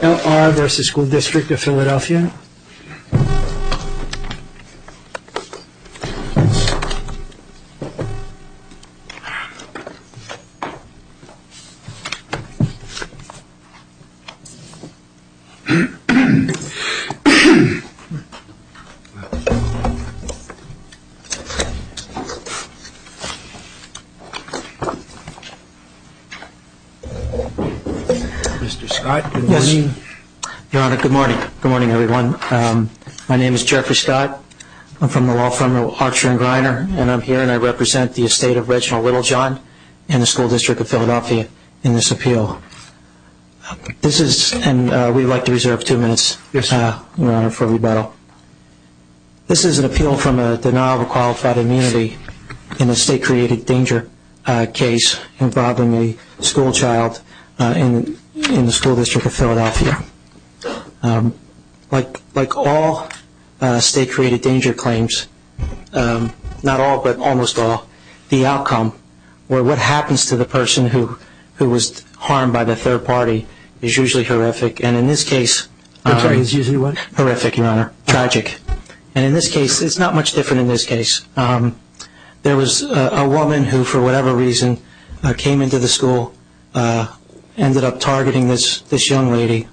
L.R. v. School District of Philadelphia Mr. Scott, good morning. Your Honor, good morning. Good morning, everyone. My name is Jeffrey Scott. I'm from the law firm Archer & Greiner, and I'm here and I represent the estate of Reginald Littlejohn and the School District of Philadelphia in this appeal. This is, and we'd like to reserve two minutes, Your Honor, for rebuttal. This is an appeal from a denial of a qualified immunity in a state-created danger case involving a school child in the School District of Philadelphia. Like all state-created danger claims, not all but almost all, the outcome, or what happens to the person who was harmed by the third party, is usually horrific, and in this case... It's usually what? Horrific, Your Honor. Tragic. And in this case, it's not much different in this case. There was a woman who, for whatever reason, came into the school, ended up targeting this young lady,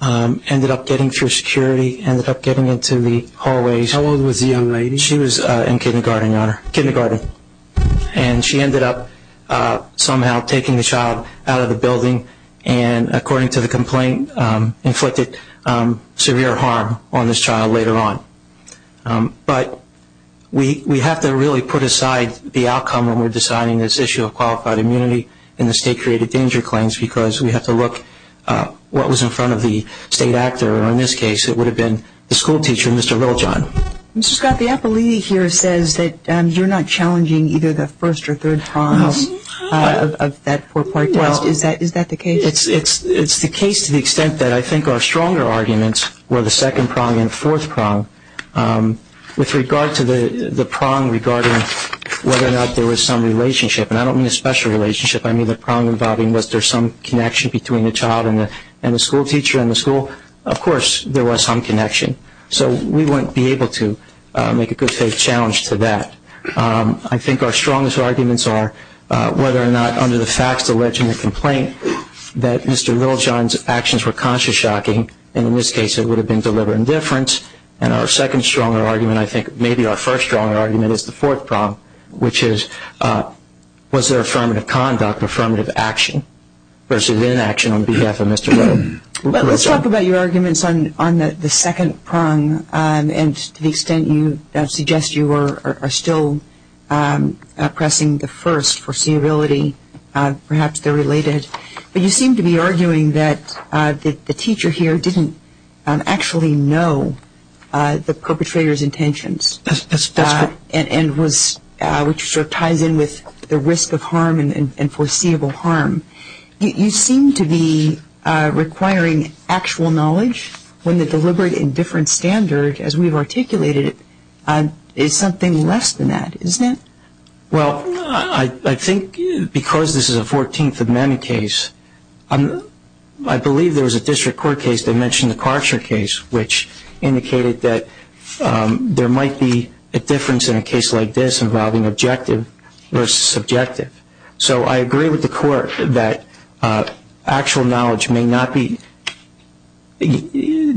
ended up getting through security, ended up getting into the hallways. How old was the young lady? She was in kindergarten, Your Honor. And she ended up somehow taking the child out of the building and, according to the complaint, inflicted severe harm on this child later on. But we have to really put aside the outcome when we're deciding this issue of qualified immunity in the state-created danger claims because we have to look at what was in front of the state actor. In this case, it would have been the school teacher, Mr. Riljon. Mr. Scott, the appellee here says that you're not challenging either the first or third cause of that four-part test. Is that the case? Well, it's the case to the extent that I think our stronger arguments were the second prong and fourth prong. With regard to the prong regarding whether or not there was some relationship, and I don't mean a special relationship, I mean the prong involving was there some connection between the child and the school teacher and the school, of course there was some connection. So we wouldn't be able to make a good-faith challenge to that. I think our strongest arguments are whether or not under the facts, the legend, the complaint, that Mr. Riljon's actions were conscious shocking, and in this case it would have been deliberate indifference. And our second stronger argument, I think maybe our first stronger argument, is the fourth prong, which is was there affirmative conduct, affirmative action versus inaction on behalf of Mr. Riljon. Let's talk about your arguments on the second prong and to the extent you suggest you are still pressing the first, foreseeability. Perhaps they're related. But you seem to be arguing that the teacher here didn't actually know the perpetrator's intentions. That's correct. And which sort of ties in with the risk of harm and foreseeable harm. You seem to be requiring actual knowledge when the deliberate indifference standard, as we've articulated it, is something less than that, isn't it? Well, I think because this is a 14th Amendment case, I believe there was a district court case that mentioned the Karcher case, which indicated that there might be a difference in a case like this involving objective versus subjective. So I agree with the court that actual knowledge may not be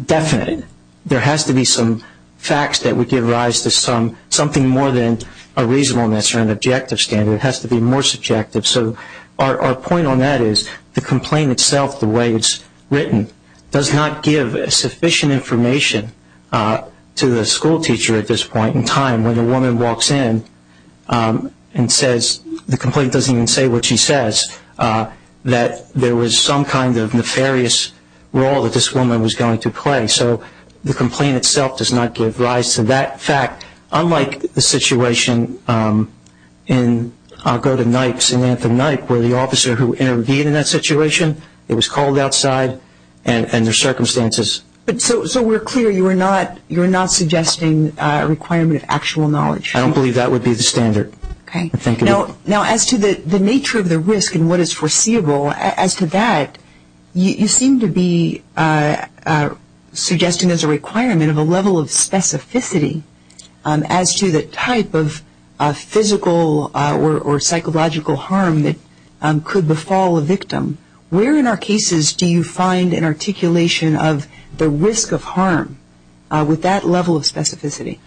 definite. There has to be some facts that would give rise to something more than a reasonableness or an objective standard. It has to be more subjective. So our point on that is the complaint itself, the way it's written, does not give sufficient information to the schoolteacher at this point in time when a woman walks in and says, the complaint doesn't even say what she says, that there was some kind of nefarious role that this woman was going to play. So the complaint itself does not give rise to that fact, unlike the situation in, I'll go to Nipes, in Anthem-Nipe, where the officer who intervened in that situation, it was called outside and their circumstances. So we're clear you're not suggesting a requirement of actual knowledge. I don't believe that would be the standard. Okay. Now as to the nature of the risk and what is foreseeable, as to that, you seem to be suggesting there's a requirement of a level of specificity as to the type of physical or psychological harm that could befall a victim. Where in our cases do you find an articulation of the risk of harm with that level of specificity?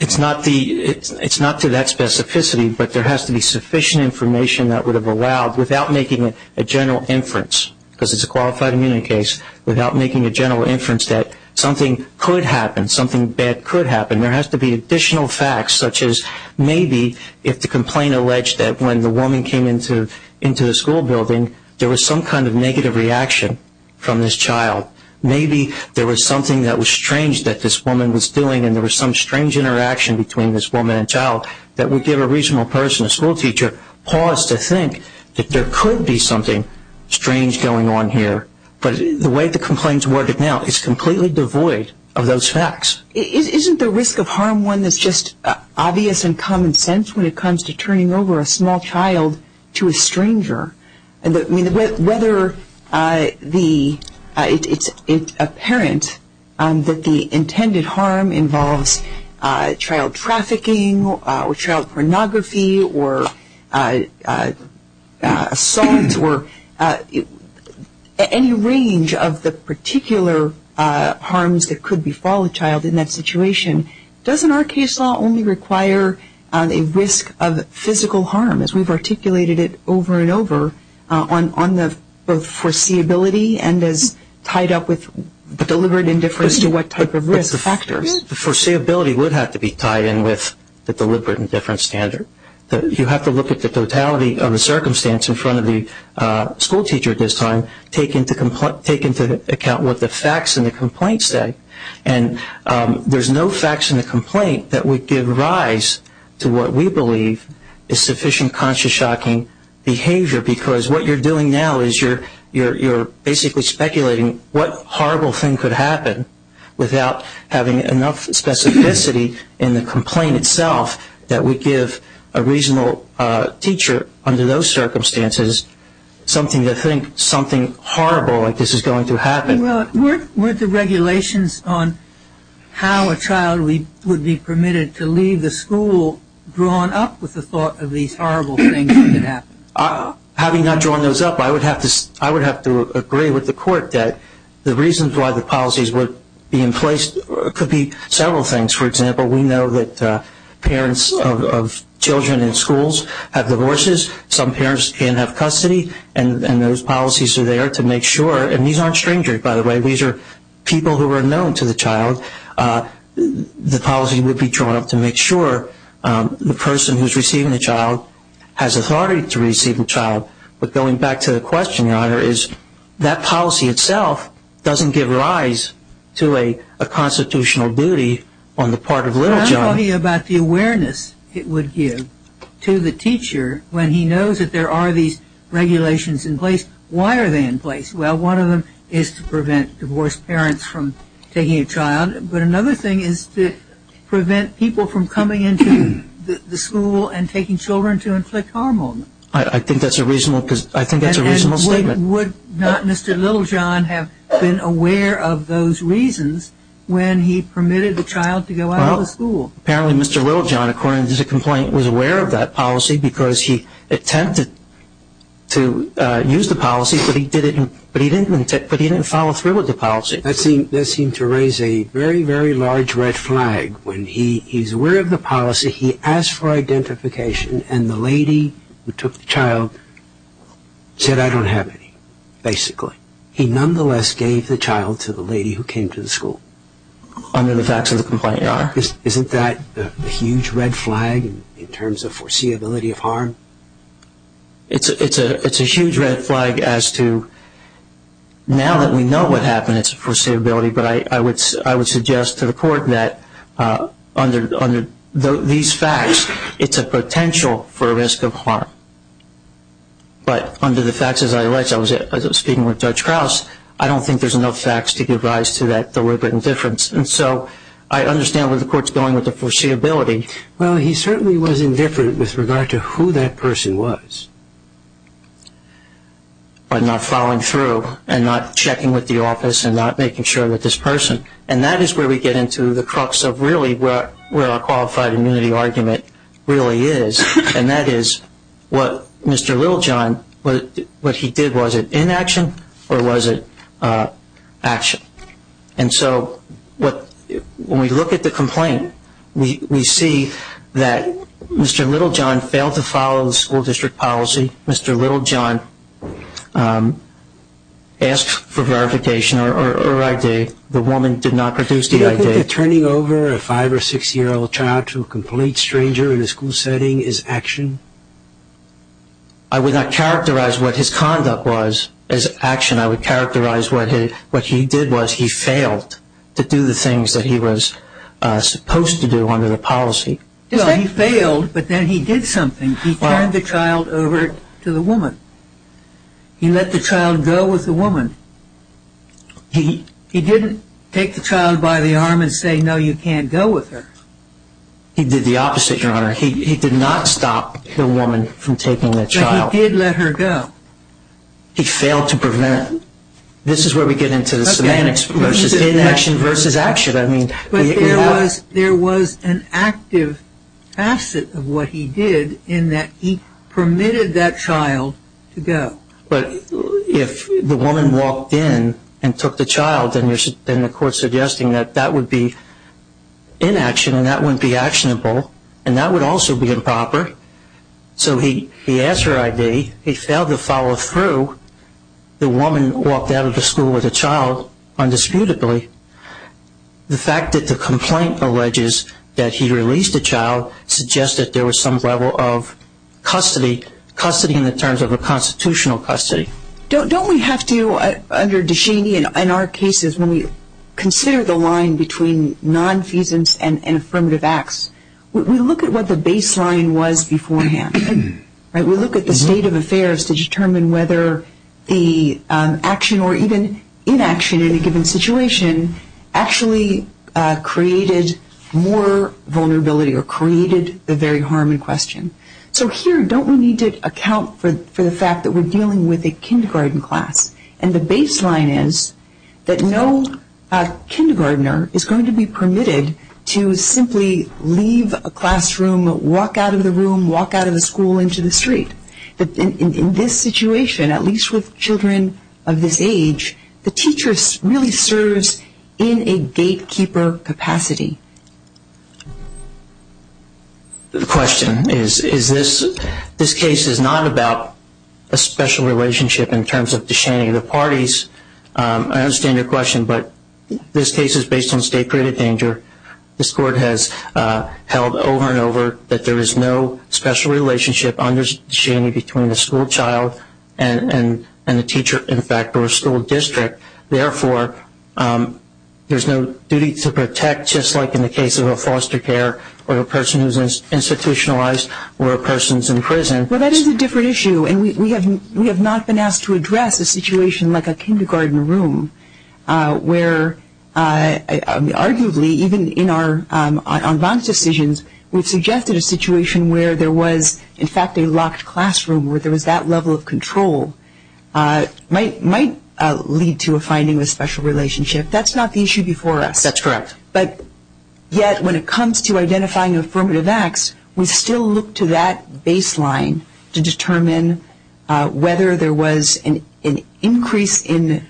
It's not to that specificity, but there has to be sufficient information that would have allowed, without making a general inference, because it's a qualified immunity case, without making a general inference that something could happen, something bad could happen. There has to be additional facts, such as maybe if the complaint alleged that when the woman came into the school building, there was some kind of negative reaction from this child. Maybe there was something that was strange that this woman was doing and there was some strange interaction between this woman and child that would give a reasonable person, a schoolteacher, pause to think that there could be something strange going on here. But the way the complaint is worded now is completely devoid of those facts. Isn't the risk of harm one that's just obvious and common sense when it comes to turning over a small child to a stranger? I mean, whether it's apparent that the intended harm involves child trafficking or child pornography or assault or any range of the particular harms that could befall a child in that situation, doesn't our case law only require a risk of physical harm, as we've articulated it over and over, on the foreseeability and as tied up with deliberate indifference to what type of risk factors? The foreseeability would have to be tied in with the deliberate indifference standard. You have to look at the totality of the circumstance in front of the schoolteacher at this time, take into account what the facts in the complaint say, and there's no facts in the complaint that would give rise to what we believe is sufficient conscious shocking behavior because what you're doing now is you're basically speculating what horrible thing could happen without having enough specificity in the complaint itself that would give a reasonable teacher, under those circumstances, something to think something horrible like this is going to happen. Weren't the regulations on how a child would be permitted to leave the school drawn up with the thought of these horrible things that could happen? Having not drawn those up, I would have to agree with the court that the reasons why the policies would be in place could be several things. For example, we know that parents of children in schools have divorces. Some parents can't have custody, and those policies are there to make sure, and these aren't strangers, by the way. These are people who are known to the child. The policy would be drawn up to make sure the person who's receiving the child has authority to receive the child. But going back to the question, Your Honor, is that policy itself doesn't give rise to a constitutional duty on the part of little John. I'm talking about the awareness it would give to the teacher when he knows that there are these regulations in place. Why are they in place? Well, one of them is to prevent divorced parents from taking a child, but another thing is to prevent people from coming into the school and taking children to inflict harm on them. I think that's a reasonable statement. And would not Mr. Little John have been aware of those reasons when he permitted the child to go out of the school? Well, apparently Mr. Little John, according to his complaint, was aware of that policy because he attempted to use the policy, but he didn't follow through with the policy. That seemed to raise a very, very large red flag. When he's aware of the policy, he asks for identification, and the lady who took the child said, I don't have any, basically. He nonetheless gave the child to the lady who came to the school. Under the facts of the complaint, Your Honor. Isn't that a huge red flag in terms of foreseeability of harm? It's a huge red flag as to now that we know what happened, it's a foreseeability, but I would suggest to the court that under these facts, it's a potential for risk of harm. But under the facts, as I was speaking with Judge Krause, I don't think there's enough facts to give rise to that deliberate indifference. And so I understand where the court's going with the foreseeability. Well, he certainly was indifferent with regard to who that person was. But not following through and not checking with the office and not making sure with this person. And that is where we get into the crux of really where our qualified immunity argument really is. And that is what Mr. Littlejohn, what he did, was it inaction or was it action? And so when we look at the complaint, we see that Mr. Littlejohn failed to follow the school district policy. Mr. Littlejohn asked for verification or ID. The woman did not produce the ID. Do you think that turning over a five- or six-year-old child to a complete stranger in a school setting is action? I would not characterize what his conduct was as action. I would characterize what he did was he failed to do the things that he was supposed to do under the policy. Well, he failed, but then he did something. He turned the child over to the woman. He let the child go with the woman. He didn't take the child by the arm and say, no, you can't go with her. He did the opposite, Your Honor. He did not stop the woman from taking the child. But he did let her go. He failed to prevent. This is where we get into the semantics versus inaction versus action. But there was an active facet of what he did in that he permitted that child to go. But if the woman walked in and took the child, then the court's suggesting that that would be inaction and that wouldn't be actionable, and that would also be improper. So he asked her ID. He failed to follow through. The woman walked out of the school with the child, undisputedly. The fact that the complaint alleges that he released the child suggests that there was some level of custody, custody in the terms of a constitutional custody. Don't we have to, under Deshaney, in our cases, when we consider the line between nonfeasance and affirmative acts, we look at what the baseline was beforehand, right? We look at the state of affairs to determine whether the action or even inaction in a given situation actually created more vulnerability or created the very harm in question. So here, don't we need to account for the fact that we're dealing with a kindergarten class, and the baseline is that no kindergartner is going to be permitted to simply leave a classroom, walk out of the room, walk out of the school into the street. In this situation, at least with children of this age, the teacher really serves in a gatekeeper capacity. The question is, this case is not about a special relationship in terms of Deshaney. The parties, I understand your question, but this case is based on state-created danger. This Court has held over and over that there is no special relationship under Deshaney between a school child and a teacher, in fact, or a school district. Therefore, there's no duty to protect, just like in the case of a foster care or a person who's institutionalized or a person who's in prison. Well, that is a different issue, and we have not been asked to address a situation like a kindergarten room, where arguably, even in our advance decisions, we've suggested a situation where there was, in fact, a locked classroom, where there was that level of control, might lead to a finding of a special relationship. That's not the issue before us. That's correct. But yet, when it comes to identifying affirmative acts, we still look to that baseline to determine whether there was an increase in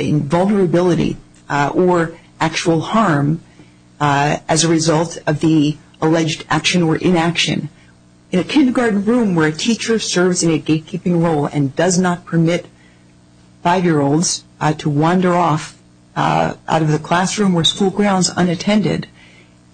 vulnerability or actual harm as a result of the alleged action or inaction. In a kindergarten room where a teacher serves in a gatekeeping role and does not permit five-year-olds to wander off out of the classroom or school grounds unattended,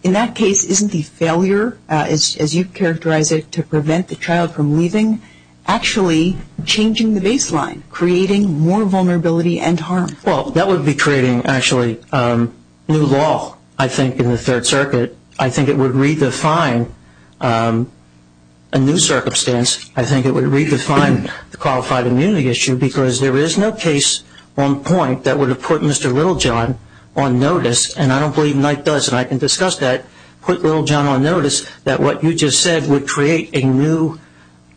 in that case, isn't the failure, as you characterize it, to prevent the child from leaving actually changing the baseline, creating more vulnerability and harm? Well, that would be creating, actually, new law, I think, in the Third Circuit. I think it would redefine a new circumstance. I think it would redefine the qualified immunity issue because there is no case on point that would have put Mr. Littlejohn on notice, and I don't believe Knight does, and I can discuss that, put Littlejohn on notice, that what you just said would create a new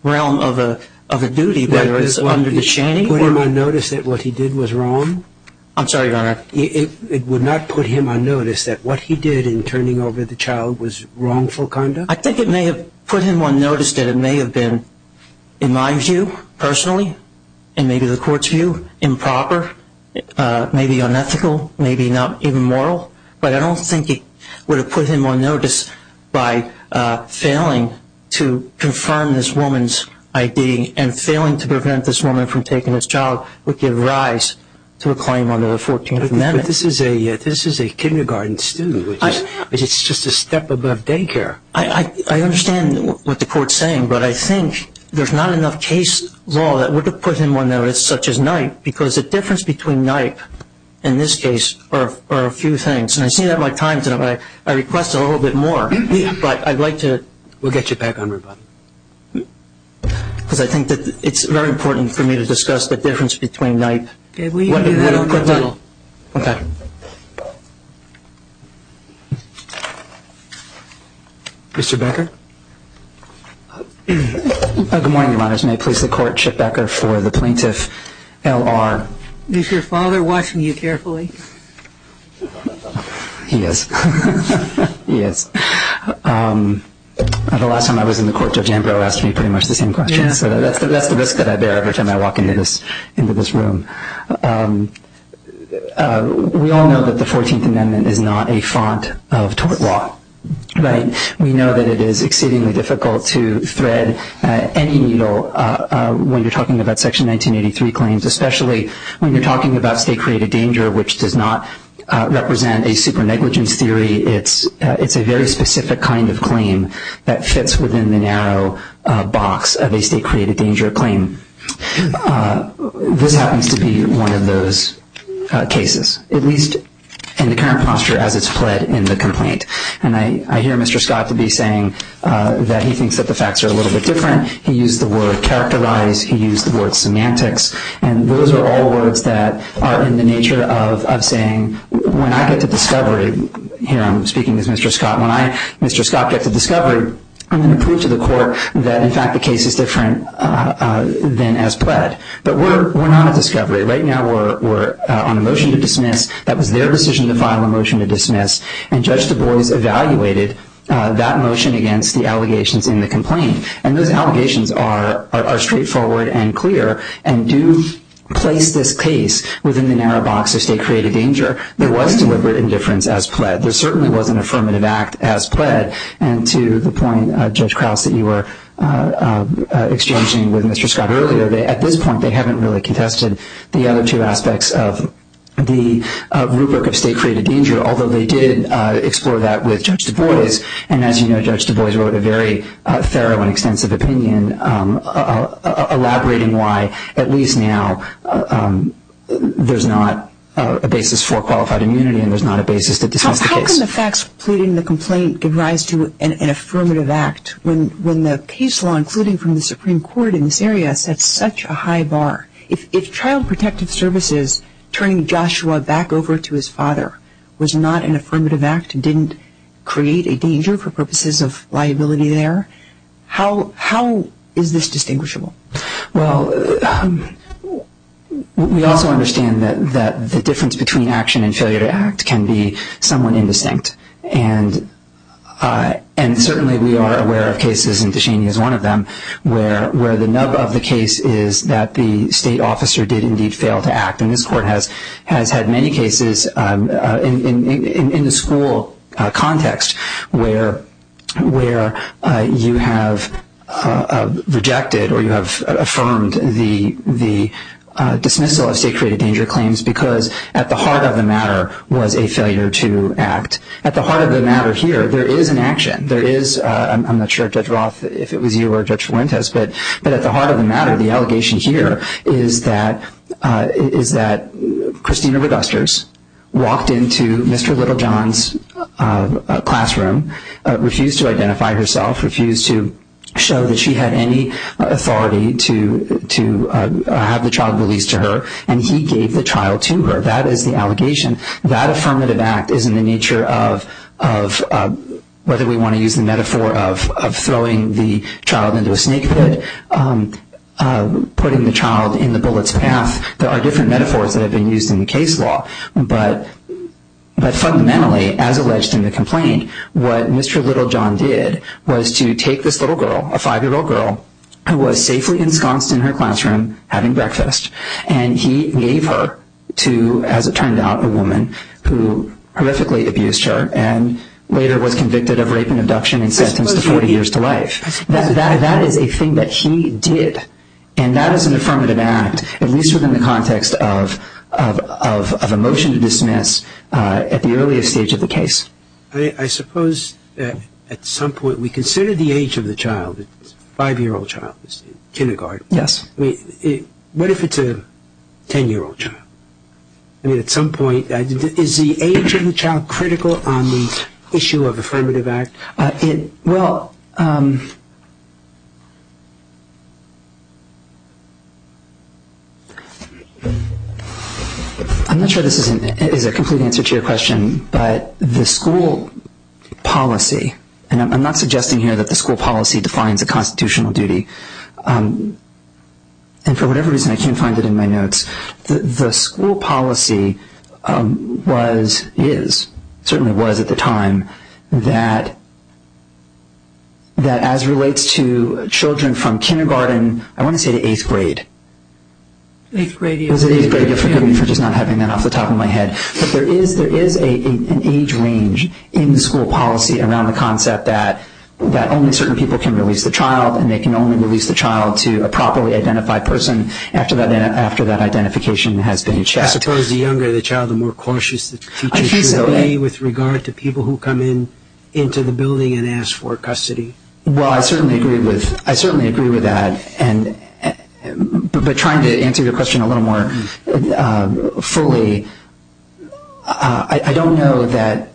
realm of a duty, whether it's under the shanning. Would it put him on notice that what he did was wrong? I'm sorry, Your Honor. It would not put him on notice that what he did in turning over the child was wrongful conduct? I think it may have put him on notice that it may have been, in my view personally and maybe the Court's view, improper, maybe unethical, maybe not even moral, but I don't think it would have put him on notice by failing to confirm this woman's I.D. and failing to prevent this woman from taking this child would give rise to a claim under the 14th Amendment. But this is a kindergarten student, which is just a step above daycare. I understand what the Court's saying, but I think there's not enough case law that would have put him on notice, such as Knight, because the difference between Knight and this case are a few things, and I see that in my times, and I request a little bit more, but I'd like to... We'll get you back on rebuttal. Because I think that it's very important for me to discuss the difference between Knight... Okay, we can do that on rebuttal. Okay. Mr. Becker? Good morning, Your Honors. May it please the Court, Chip Becker for the Plaintiff L.R. Is your father watching you carefully? He is. He is. The last time I was in the Court, Jeff Jambro asked me pretty much the same question, so that's the risk that I bear every time I walk into this room. We all know that the 14th Amendment is not a font of tort law, right? We know that it is exceedingly difficult to thread any needle when you're talking about Section 1983 claims, especially when you're talking about state-created danger, which does not represent a super-negligence theory. It's a very specific kind of claim that fits within the narrow box of a state-created danger claim. This happens to be one of those cases, at least in the current posture as it's fled in the complaint. And I hear Mr. Scott to be saying that he thinks that the facts are a little bit different. He used the word characterize. He used the word semantics. And those are all words that are in the nature of saying when I get to discovery, here I'm speaking as Mr. Scott, when I, Mr. Scott, get to discovery, I'm going to prove to the Court that, in fact, the case is different than as pled. But we're not at discovery. Right now we're on a motion to dismiss. That was their decision to file a motion to dismiss, and Judge Du Bois evaluated that motion against the allegations in the complaint. And those allegations are straightforward and clear and do place this case within the narrow box of state-created danger. There was deliberate indifference as pled. There certainly was an affirmative act as pled. And to the point, Judge Krause, that you were exchanging with Mr. Scott earlier, at this point they haven't really contested the other two aspects of the rubric of state-created danger, although they did explore that with Judge Du Bois. And as you know, Judge Du Bois wrote a very thorough and extensive opinion elaborating why, at least now, there's not a basis for qualified immunity and there's not a basis to dismiss the case. How can the facts pleading the complaint give rise to an affirmative act when the case law, including from the Supreme Court in this area, sets such a high bar? If child protective services turning Joshua back over to his father was not an affirmative act and didn't create a danger for purposes of liability there, how is this distinguishable? Well, we also understand that the difference between action and failure to act can be somewhat indistinct. And certainly we are aware of cases, and Duchenne is one of them, where the nub of the case is that the state officer did indeed fail to act. And this court has had many cases in the school context where you have rejected or you have affirmed the dismissal of state-created danger claims because at the heart of the matter was a failure to act. At the heart of the matter here there is an action. I'm not sure, Judge Roth, if it was you or Judge Fuentes, but at the heart of the matter, the allegation here is that Christina Regusters walked into Mr. Littlejohn's classroom, refused to identify herself, refused to show that she had any authority to have the child released to her, and he gave the child to her. That is the allegation. That affirmative act is in the nature of whether we want to use the metaphor of throwing the child into a snake pit, putting the child in the bullet's path. There are different metaphors that have been used in the case law. But fundamentally, as alleged in the complaint, what Mr. Littlejohn did was to take this little girl, a five-year-old girl, who was safely ensconced in her classroom having breakfast, and he gave her to, as it turned out, a woman who horrifically abused her and later was convicted of rape and abduction and sentenced to 40 years to life. That is a thing that he did, and that is an affirmative act, at least within the context of a motion to dismiss at the earliest stage of the case. I suppose at some point we consider the age of the child, the five-year-old child, kindergarten. Yes. What if it's a 10-year-old child? I mean, at some point, is the age of the child critical on the issue of affirmative act? Well, I'm not sure this is a complete answer to your question, but the school policy, and I'm not suggesting here that the school policy defines a constitutional duty, and for whatever reason I can't find it in my notes, the school policy was, is, certainly was at the time, that as relates to children from kindergarten, I want to say to eighth grade. Eighth grade, yes. Forgive me for just not having that off the top of my head. But there is an age range in the school policy around the concept that only certain people can release the child, and they can only release the child to a properly identified person after that identification has been checked. I suppose the younger the child, the more cautious the teachers should be with regard to people who come into the building and ask for custody. Well, I certainly agree with that, but trying to answer your question a little more fully, I don't know that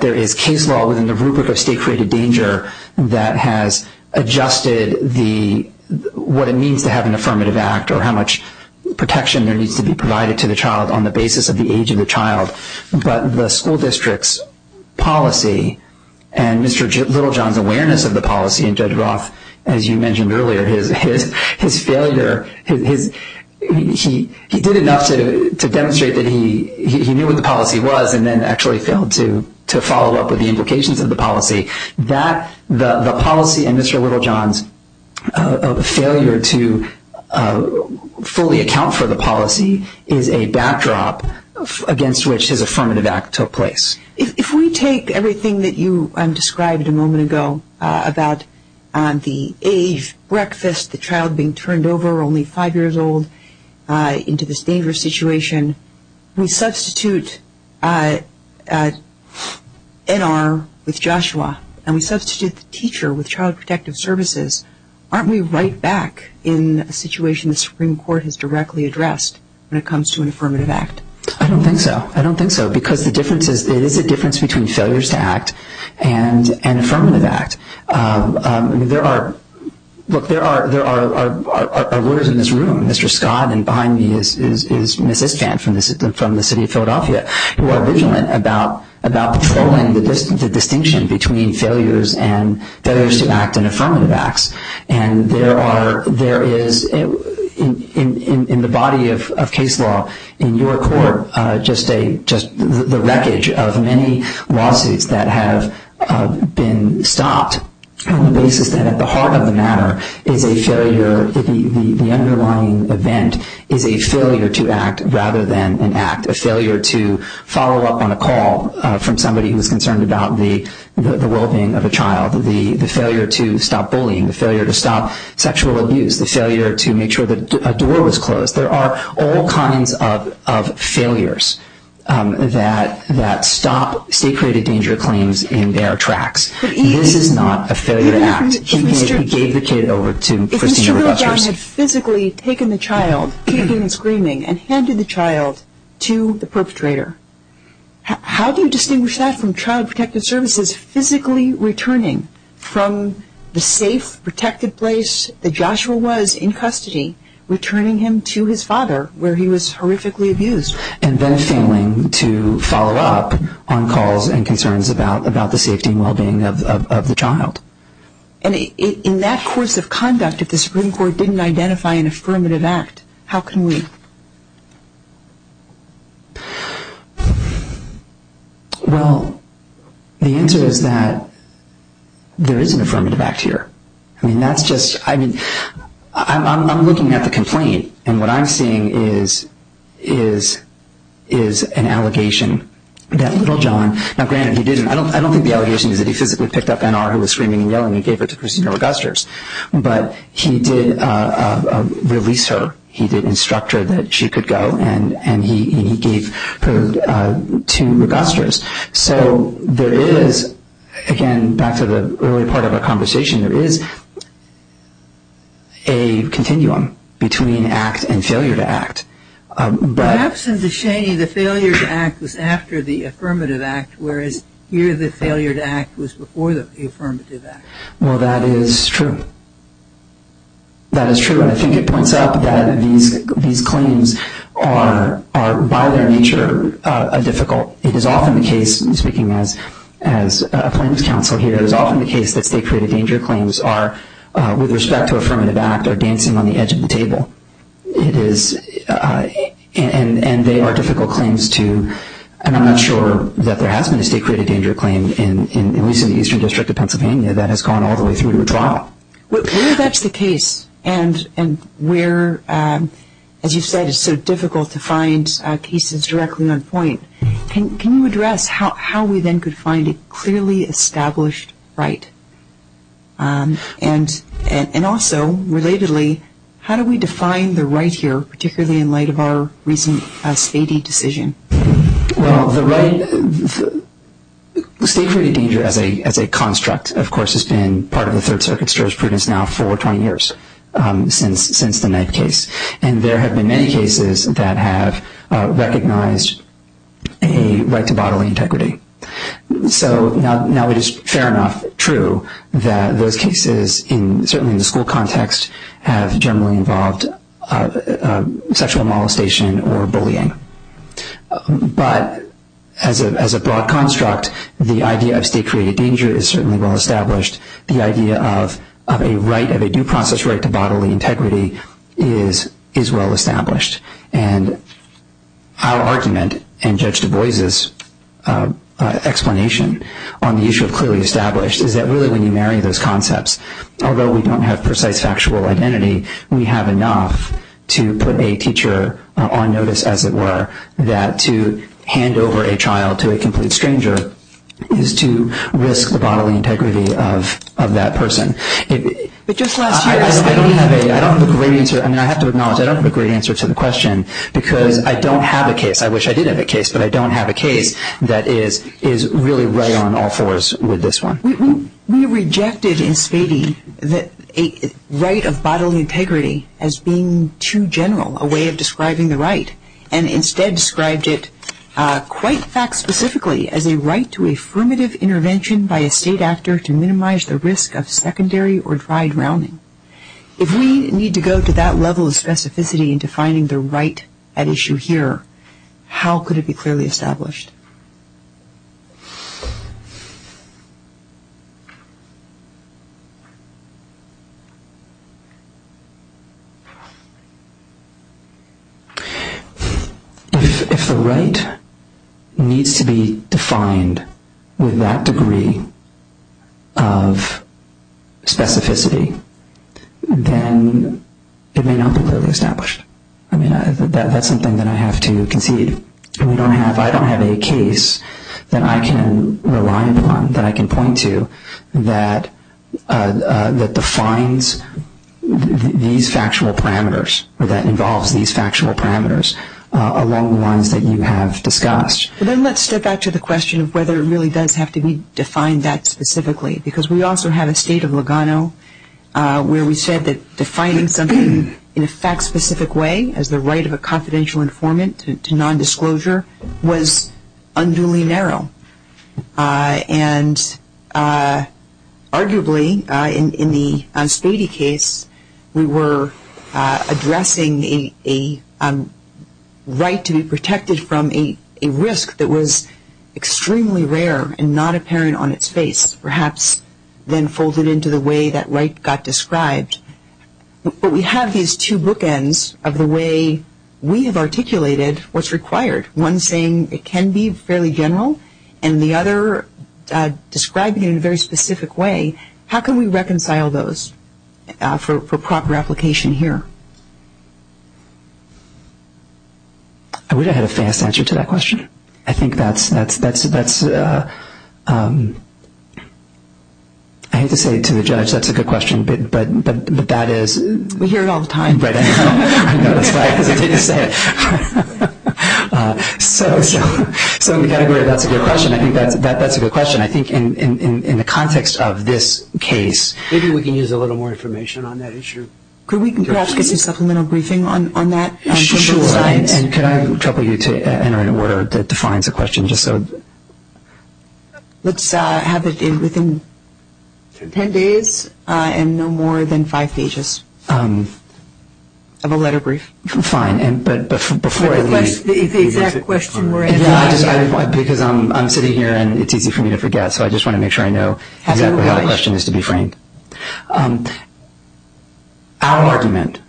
there is case law within the rubric of state-created danger that has adjusted what it means to have an affirmative act or how much protection there needs to be provided to the child on the basis of the age of the child, but the school district's policy and Mr. Littlejohn's awareness of the policy, and Judge Roth, as you mentioned earlier, his failure, he did enough to demonstrate that he knew what the policy was and then actually failed to follow up with the implications of the policy. The policy in Mr. Littlejohn's failure to fully account for the policy is a backdrop against which his affirmative act took place. If we take everything that you described a moment ago about the age breakfast, the child being turned over, only five years old, into this dangerous situation, we substitute NR with Joshua, and we substitute the teacher with Child Protective Services, aren't we right back in a situation the Supreme Court has directly addressed when it comes to an affirmative act? I don't think so. I don't think so, because there is a difference between failures to act and affirmative act. Look, there are lawyers in this room, Mr. Scott, and behind me is Ms. Istvan from the city of Philadelphia, who are vigilant about following the distinction between failures to act and affirmative acts. There is, in the body of case law, in your court, just the wreckage of many lawsuits that have been stopped on the basis that at the heart of the matter is a failure, the underlying event is a failure to act rather than an act, a failure to follow up on a call from somebody who is concerned about the well-being of a child, the failure to stop bullying, the failure to stop sexual abuse, the failure to make sure that a door was closed. There are all kinds of failures that stop state-created danger claims in their tracks. This is not a failure to act. He gave the kid over to Christina Rogers. If Mr. Bill John had physically taken the child, taken him screaming, and handed the child to the perpetrator, how do you distinguish that from Child Protective Services physically returning from the safe, protected place that Joshua was in custody, returning him to his father where he was horrifically abused? And then failing to follow up on calls and concerns about the safety and well-being of the child. And in that course of conduct, if the Supreme Court didn't identify an affirmative act, how can we? Well, the answer is that there is an affirmative act here. I mean, that's just, I mean, I'm looking at the complaint, and what I'm seeing is an allegation that little John, now granted he did, I don't think the allegation is that he physically picked up NR who was screaming and yelling and gave her to Christina Rogers, but he did release her. He did instruct her that she could go, and he gave her to Rogers. So there is, again, back to the early part of our conversation, there is a continuum between act and failure to act. Perhaps in Descheny the failure to act was after the affirmative act, Well, that is true. That is true, and I think it points out that these claims are, by their nature, difficult. It is often the case, speaking as a plaintiff's counsel here, it is often the case that state-created danger claims are, with respect to affirmative act, are dancing on the edge of the table. It is, and they are difficult claims to, and I'm not sure that there has been a state-created danger claim, at least in the Eastern District of Pennsylvania, that has gone all the way through to a trial. Where that is the case, and where, as you said, it is so difficult to find cases directly on point, can you address how we then could find a clearly established right? And also, relatedly, how do we define the right here, particularly in light of our recent state-decision? Well, the state-created danger as a construct, of course, has been part of the Third Circuit's jurisprudence now for 20 years, since the Knife case. And there have been many cases that have recognized a right to bodily integrity. So now it is fair enough, true, that those cases, certainly in the school context, But as a broad construct, the idea of state-created danger is certainly well-established. The idea of a due process right to bodily integrity is well-established. And our argument, and Judge Du Bois' explanation on the issue of clearly established, is that really when you marry those concepts, although we don't have precise factual identity, we have enough to put a teacher on notice, as it were, that to hand over a child to a complete stranger is to risk the bodily integrity of that person. I don't have a great answer, I have to acknowledge, I don't have a great answer to the question, because I don't have a case, I wish I did have a case, but I don't have a case that is really right on all fours with this one. We rejected in Spady the right of bodily integrity as being too general, a way of describing the right, and instead described it, quite fact-specifically, as a right to affirmative intervention by a state actor to minimize the risk of secondary or dry drowning. If we need to go to that level of specificity in defining the right at issue here, how could it be clearly established? If the right needs to be defined with that degree of specificity, then it may not be clearly established. That's something that I have to concede. I don't have a case that I can rely upon, that I can point to, that defines these factual parameters, or that involves these factual parameters, along the lines that you have discussed. Then let's step back to the question of whether it really does have to be defined that specifically, because we also have a state of Lugano where we said that defining something in a fact-specific way as the right of a confidential informant to nondisclosure was unduly narrow. Arguably, in the Spady case, we were addressing a right to be protected from a risk that was extremely rare and not apparent on its face, perhaps then folded into the way that right got described. But we have these two bookends of the way we have articulated what's required, one saying it can be fairly general and the other describing it in a very specific way. How can we reconcile those for proper application here? I wish I had a fast answer to that question. I think that's, I hate to say it to the judge, that's a good question, but that is... We hear it all the time. I know, that's why I hesitate to say it. So we've got to agree that's a good question. I think that's a good question. I think in the context of this case... Maybe we can use a little more information on that issue. Could we perhaps get some supplemental briefing on that? Sure. And could I trouble you to enter in a word that defines a question just so... Let's have it within ten days and no more than five pages of a letter brief. Fine, but before I leave... The exact question we're asking. Because I'm sitting here and it's easy for me to forget, so I just want to make sure I know exactly how the question is to be framed. Our argument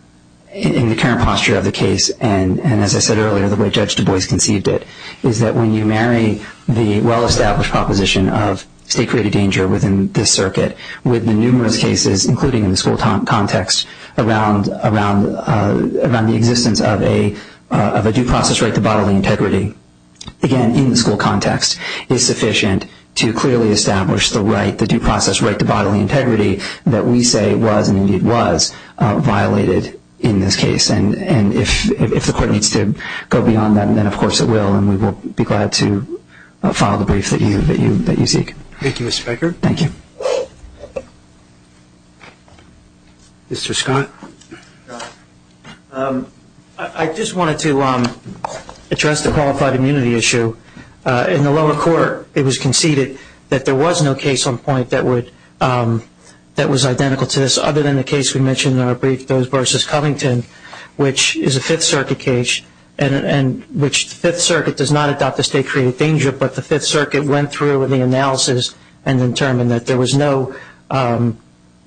in the current posture of the case and, as I said earlier, the way Judge Du Bois conceived it, is that when you marry the well-established proposition of state-created danger within this circuit with the numerous cases, including in the school context, around the existence of a due process right to bodily integrity, again, in the school context, is sufficient to clearly establish the right, the due process right to bodily integrity that we say was, and indeed was, violated in this case. And if the court needs to go beyond that, then of course it will, and we will be glad to file the brief that you seek. Thank you, Mr. Baker. Thank you. Mr. Scott. I just wanted to address the qualified immunity issue. In the lower court, it was conceded that there was no case on point that was identical to this, which is a Fifth Circuit case, and which the Fifth Circuit does not adopt the state-created danger, but the Fifth Circuit went through the analysis and determined that there was no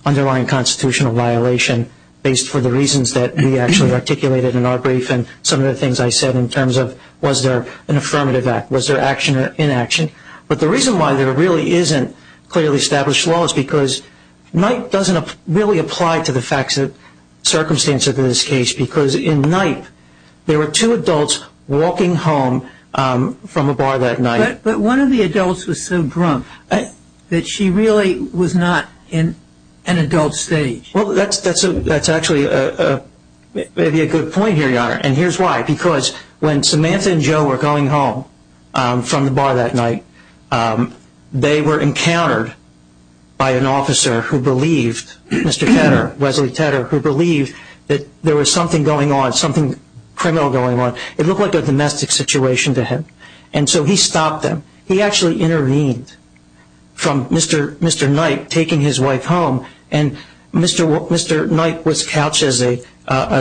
underlying constitutional violation based for the reasons that we actually articulated in our brief and some of the things I said in terms of was there an affirmative act, was there action or inaction. But the reason why there really isn't clearly established law is because NIPE doesn't really apply to the facts and circumstances of this case because in NIPE, there were two adults walking home from a bar that night. But one of the adults was so drunk that she really was not in an adult stage. Well, that's actually maybe a good point here, Your Honor, and here's why. Because when Samantha and Joe were going home from the bar that night, they were encountered by an officer who believed, Mr. Tedder, Wesley Tedder, who believed that there was something going on, something criminal going on. It looked like a domestic situation to him, and so he stopped them. He actually intervened from Mr. Nipe taking his wife home, and Mr. Nipe was couched as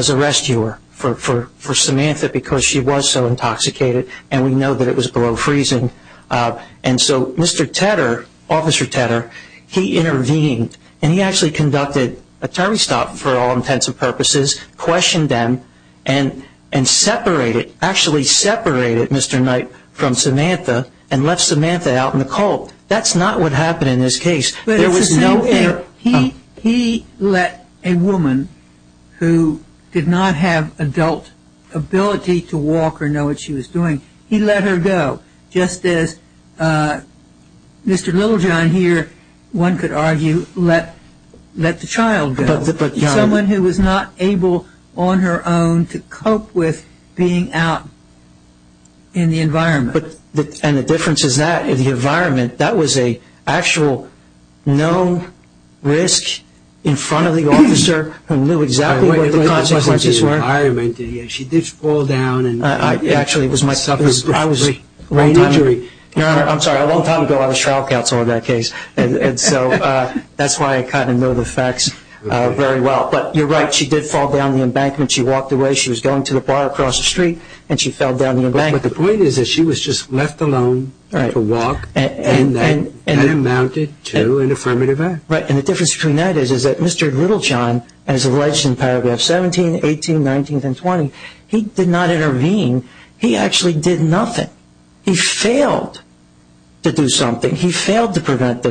a rescuer for Samantha because she was so intoxicated, and we know that it was below freezing. And so Mr. Tedder, Officer Tedder, he intervened, and he actually conducted a turnstile for all intents and purposes, questioned them, and separated, actually separated Mr. Nipe from Samantha and left Samantha out in the cold. That's not what happened in this case. He let a woman who did not have adult ability to walk or know what she was doing, he let her go, just as Mr. Littlejohn here, one could argue, let the child go, someone who was not able on her own to cope with being out in the environment. And the difference is that, in the environment, that was an actual known risk in front of the officer who knew exactly what the consequences were. She did fall down. Actually, it was my suffering. Your Honor, I'm sorry, a long time ago I was trial counsel in that case, and so that's why I kind of know the facts very well. But you're right, she did fall down the embankment. She walked away, she was going to the bar across the street, and she fell down the embankment. But the point is that she was just left alone to walk, and that amounted to an affirmative act. Right. And the difference between that is that Mr. Littlejohn, as alleged in paragraph 17, 18, 19, and 20, he did not intervene. He actually did nothing. He failed to do something. He failed to prevent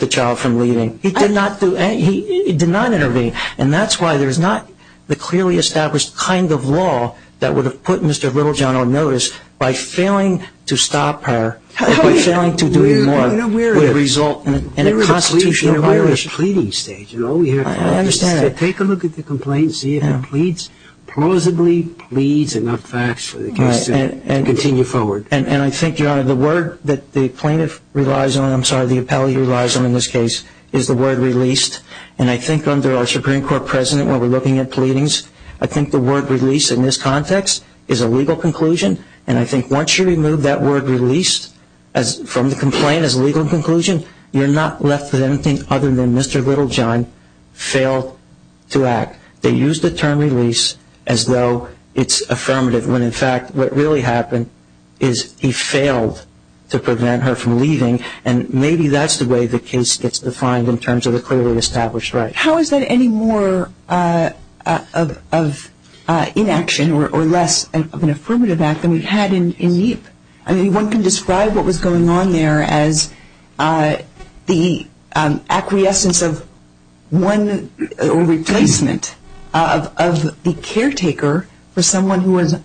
the child from leaving. He did not intervene. And that's why there's not the clearly established kind of law that would have put Mr. Littlejohn on notice by failing to stop her, by failing to do more, would result in a constitutional violation. We're in a pleading stage, and all we have to do is take a look at the complaint, see if it plausibly pleads enough facts for the case to continue forward. And I think, Your Honor, the word that the plaintiff relies on, I'm sorry, the appellee relies on in this case, is the word released. And I think under our Supreme Court president, when we're looking at pleadings, I think the word release in this context is a legal conclusion. And I think once you remove that word released from the complaint as a legal conclusion, you're not left with anything other than Mr. Littlejohn failed to act. They used the term release as though it's affirmative, when in fact what really happened is he failed to prevent her from leaving. And maybe that's the way the case gets defined in terms of the clearly established right. How is that any more of inaction or less of an affirmative act than we had in MEEP? I mean, one can describe what was going on there as the acquiescence of one or replacement of the caretaker for someone who was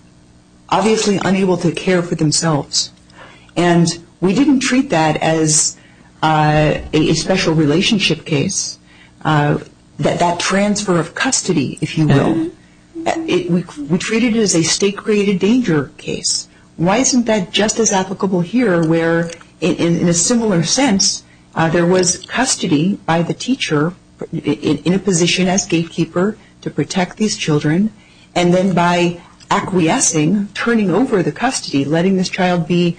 obviously unable to care for themselves. And we didn't treat that as a special relationship case, that transfer of custody, if you will. We treated it as a state-created danger case. Why isn't that just as applicable here where, in a similar sense, there was custody by the teacher in a position as gatekeeper to protect these children, and then by acquiescing, turning over the custody, letting this child be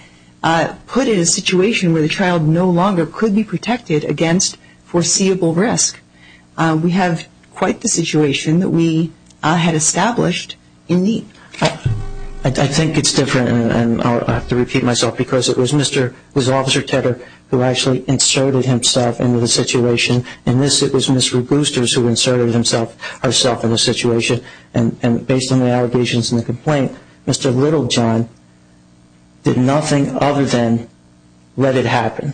put in a situation where the child no longer could be protected against foreseeable risk? We have quite the situation that we had established in MEEP. I think it's different, and I'll have to repeat myself, because it was Officer Tedder who actually inserted himself into the situation. In this, it was Mr. Boosters who inserted himself in the situation. And based on the allegations and the complaint, Mr. Littlejohn did nothing other than let it happen.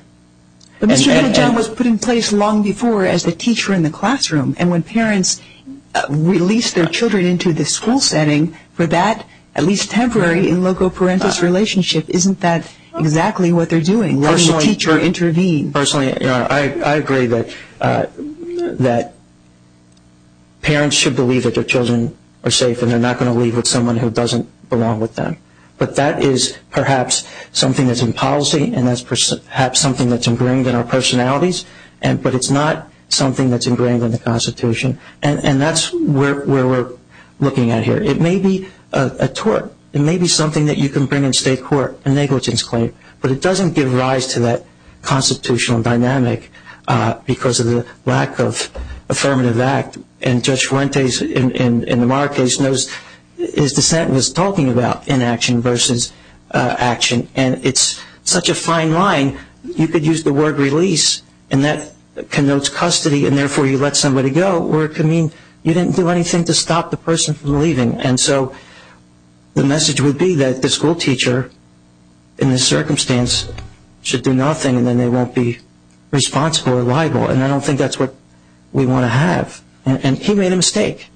But Mr. Littlejohn was put in place long before as the teacher in the classroom. And when parents release their children into the school setting for that, at least temporary, in loco parentis relationship, isn't that exactly what they're doing, letting the teacher intervene? Personally, I agree that parents should believe that their children are safe and they're not going to leave with someone who doesn't belong with them. But that is perhaps something that's in policy, and that's perhaps something that's ingrained in our personalities, but it's not something that's ingrained in the Constitution. And that's where we're looking at here. It may be a tort. It may be something that you can bring in state court, a negligence claim. But it doesn't give rise to that constitutional dynamic because of the lack of affirmative act. And Judge Fuentes in the Marra case knows his dissent was talking about inaction versus action. And it's such a fine line, you could use the word release, and that connotes custody, and therefore you let somebody go where it could mean you didn't do anything to stop the person from leaving. And so the message would be that the school teacher in this circumstance should do nothing and then they won't be responsible or liable, and I don't think that's what we want to have. And he made a mistake,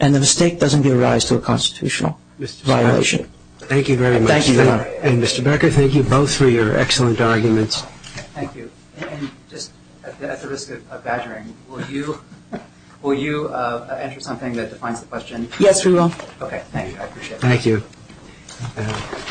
and the mistake doesn't give rise to a constitutional violation. Thank you very much. Thank you. And, Mr. Becker, thank you both for your excellent arguments. Thank you. And just at the risk of badgering, will you enter something that defines the question? Yes, we will. Okay, thank you. I appreciate it. Thank you.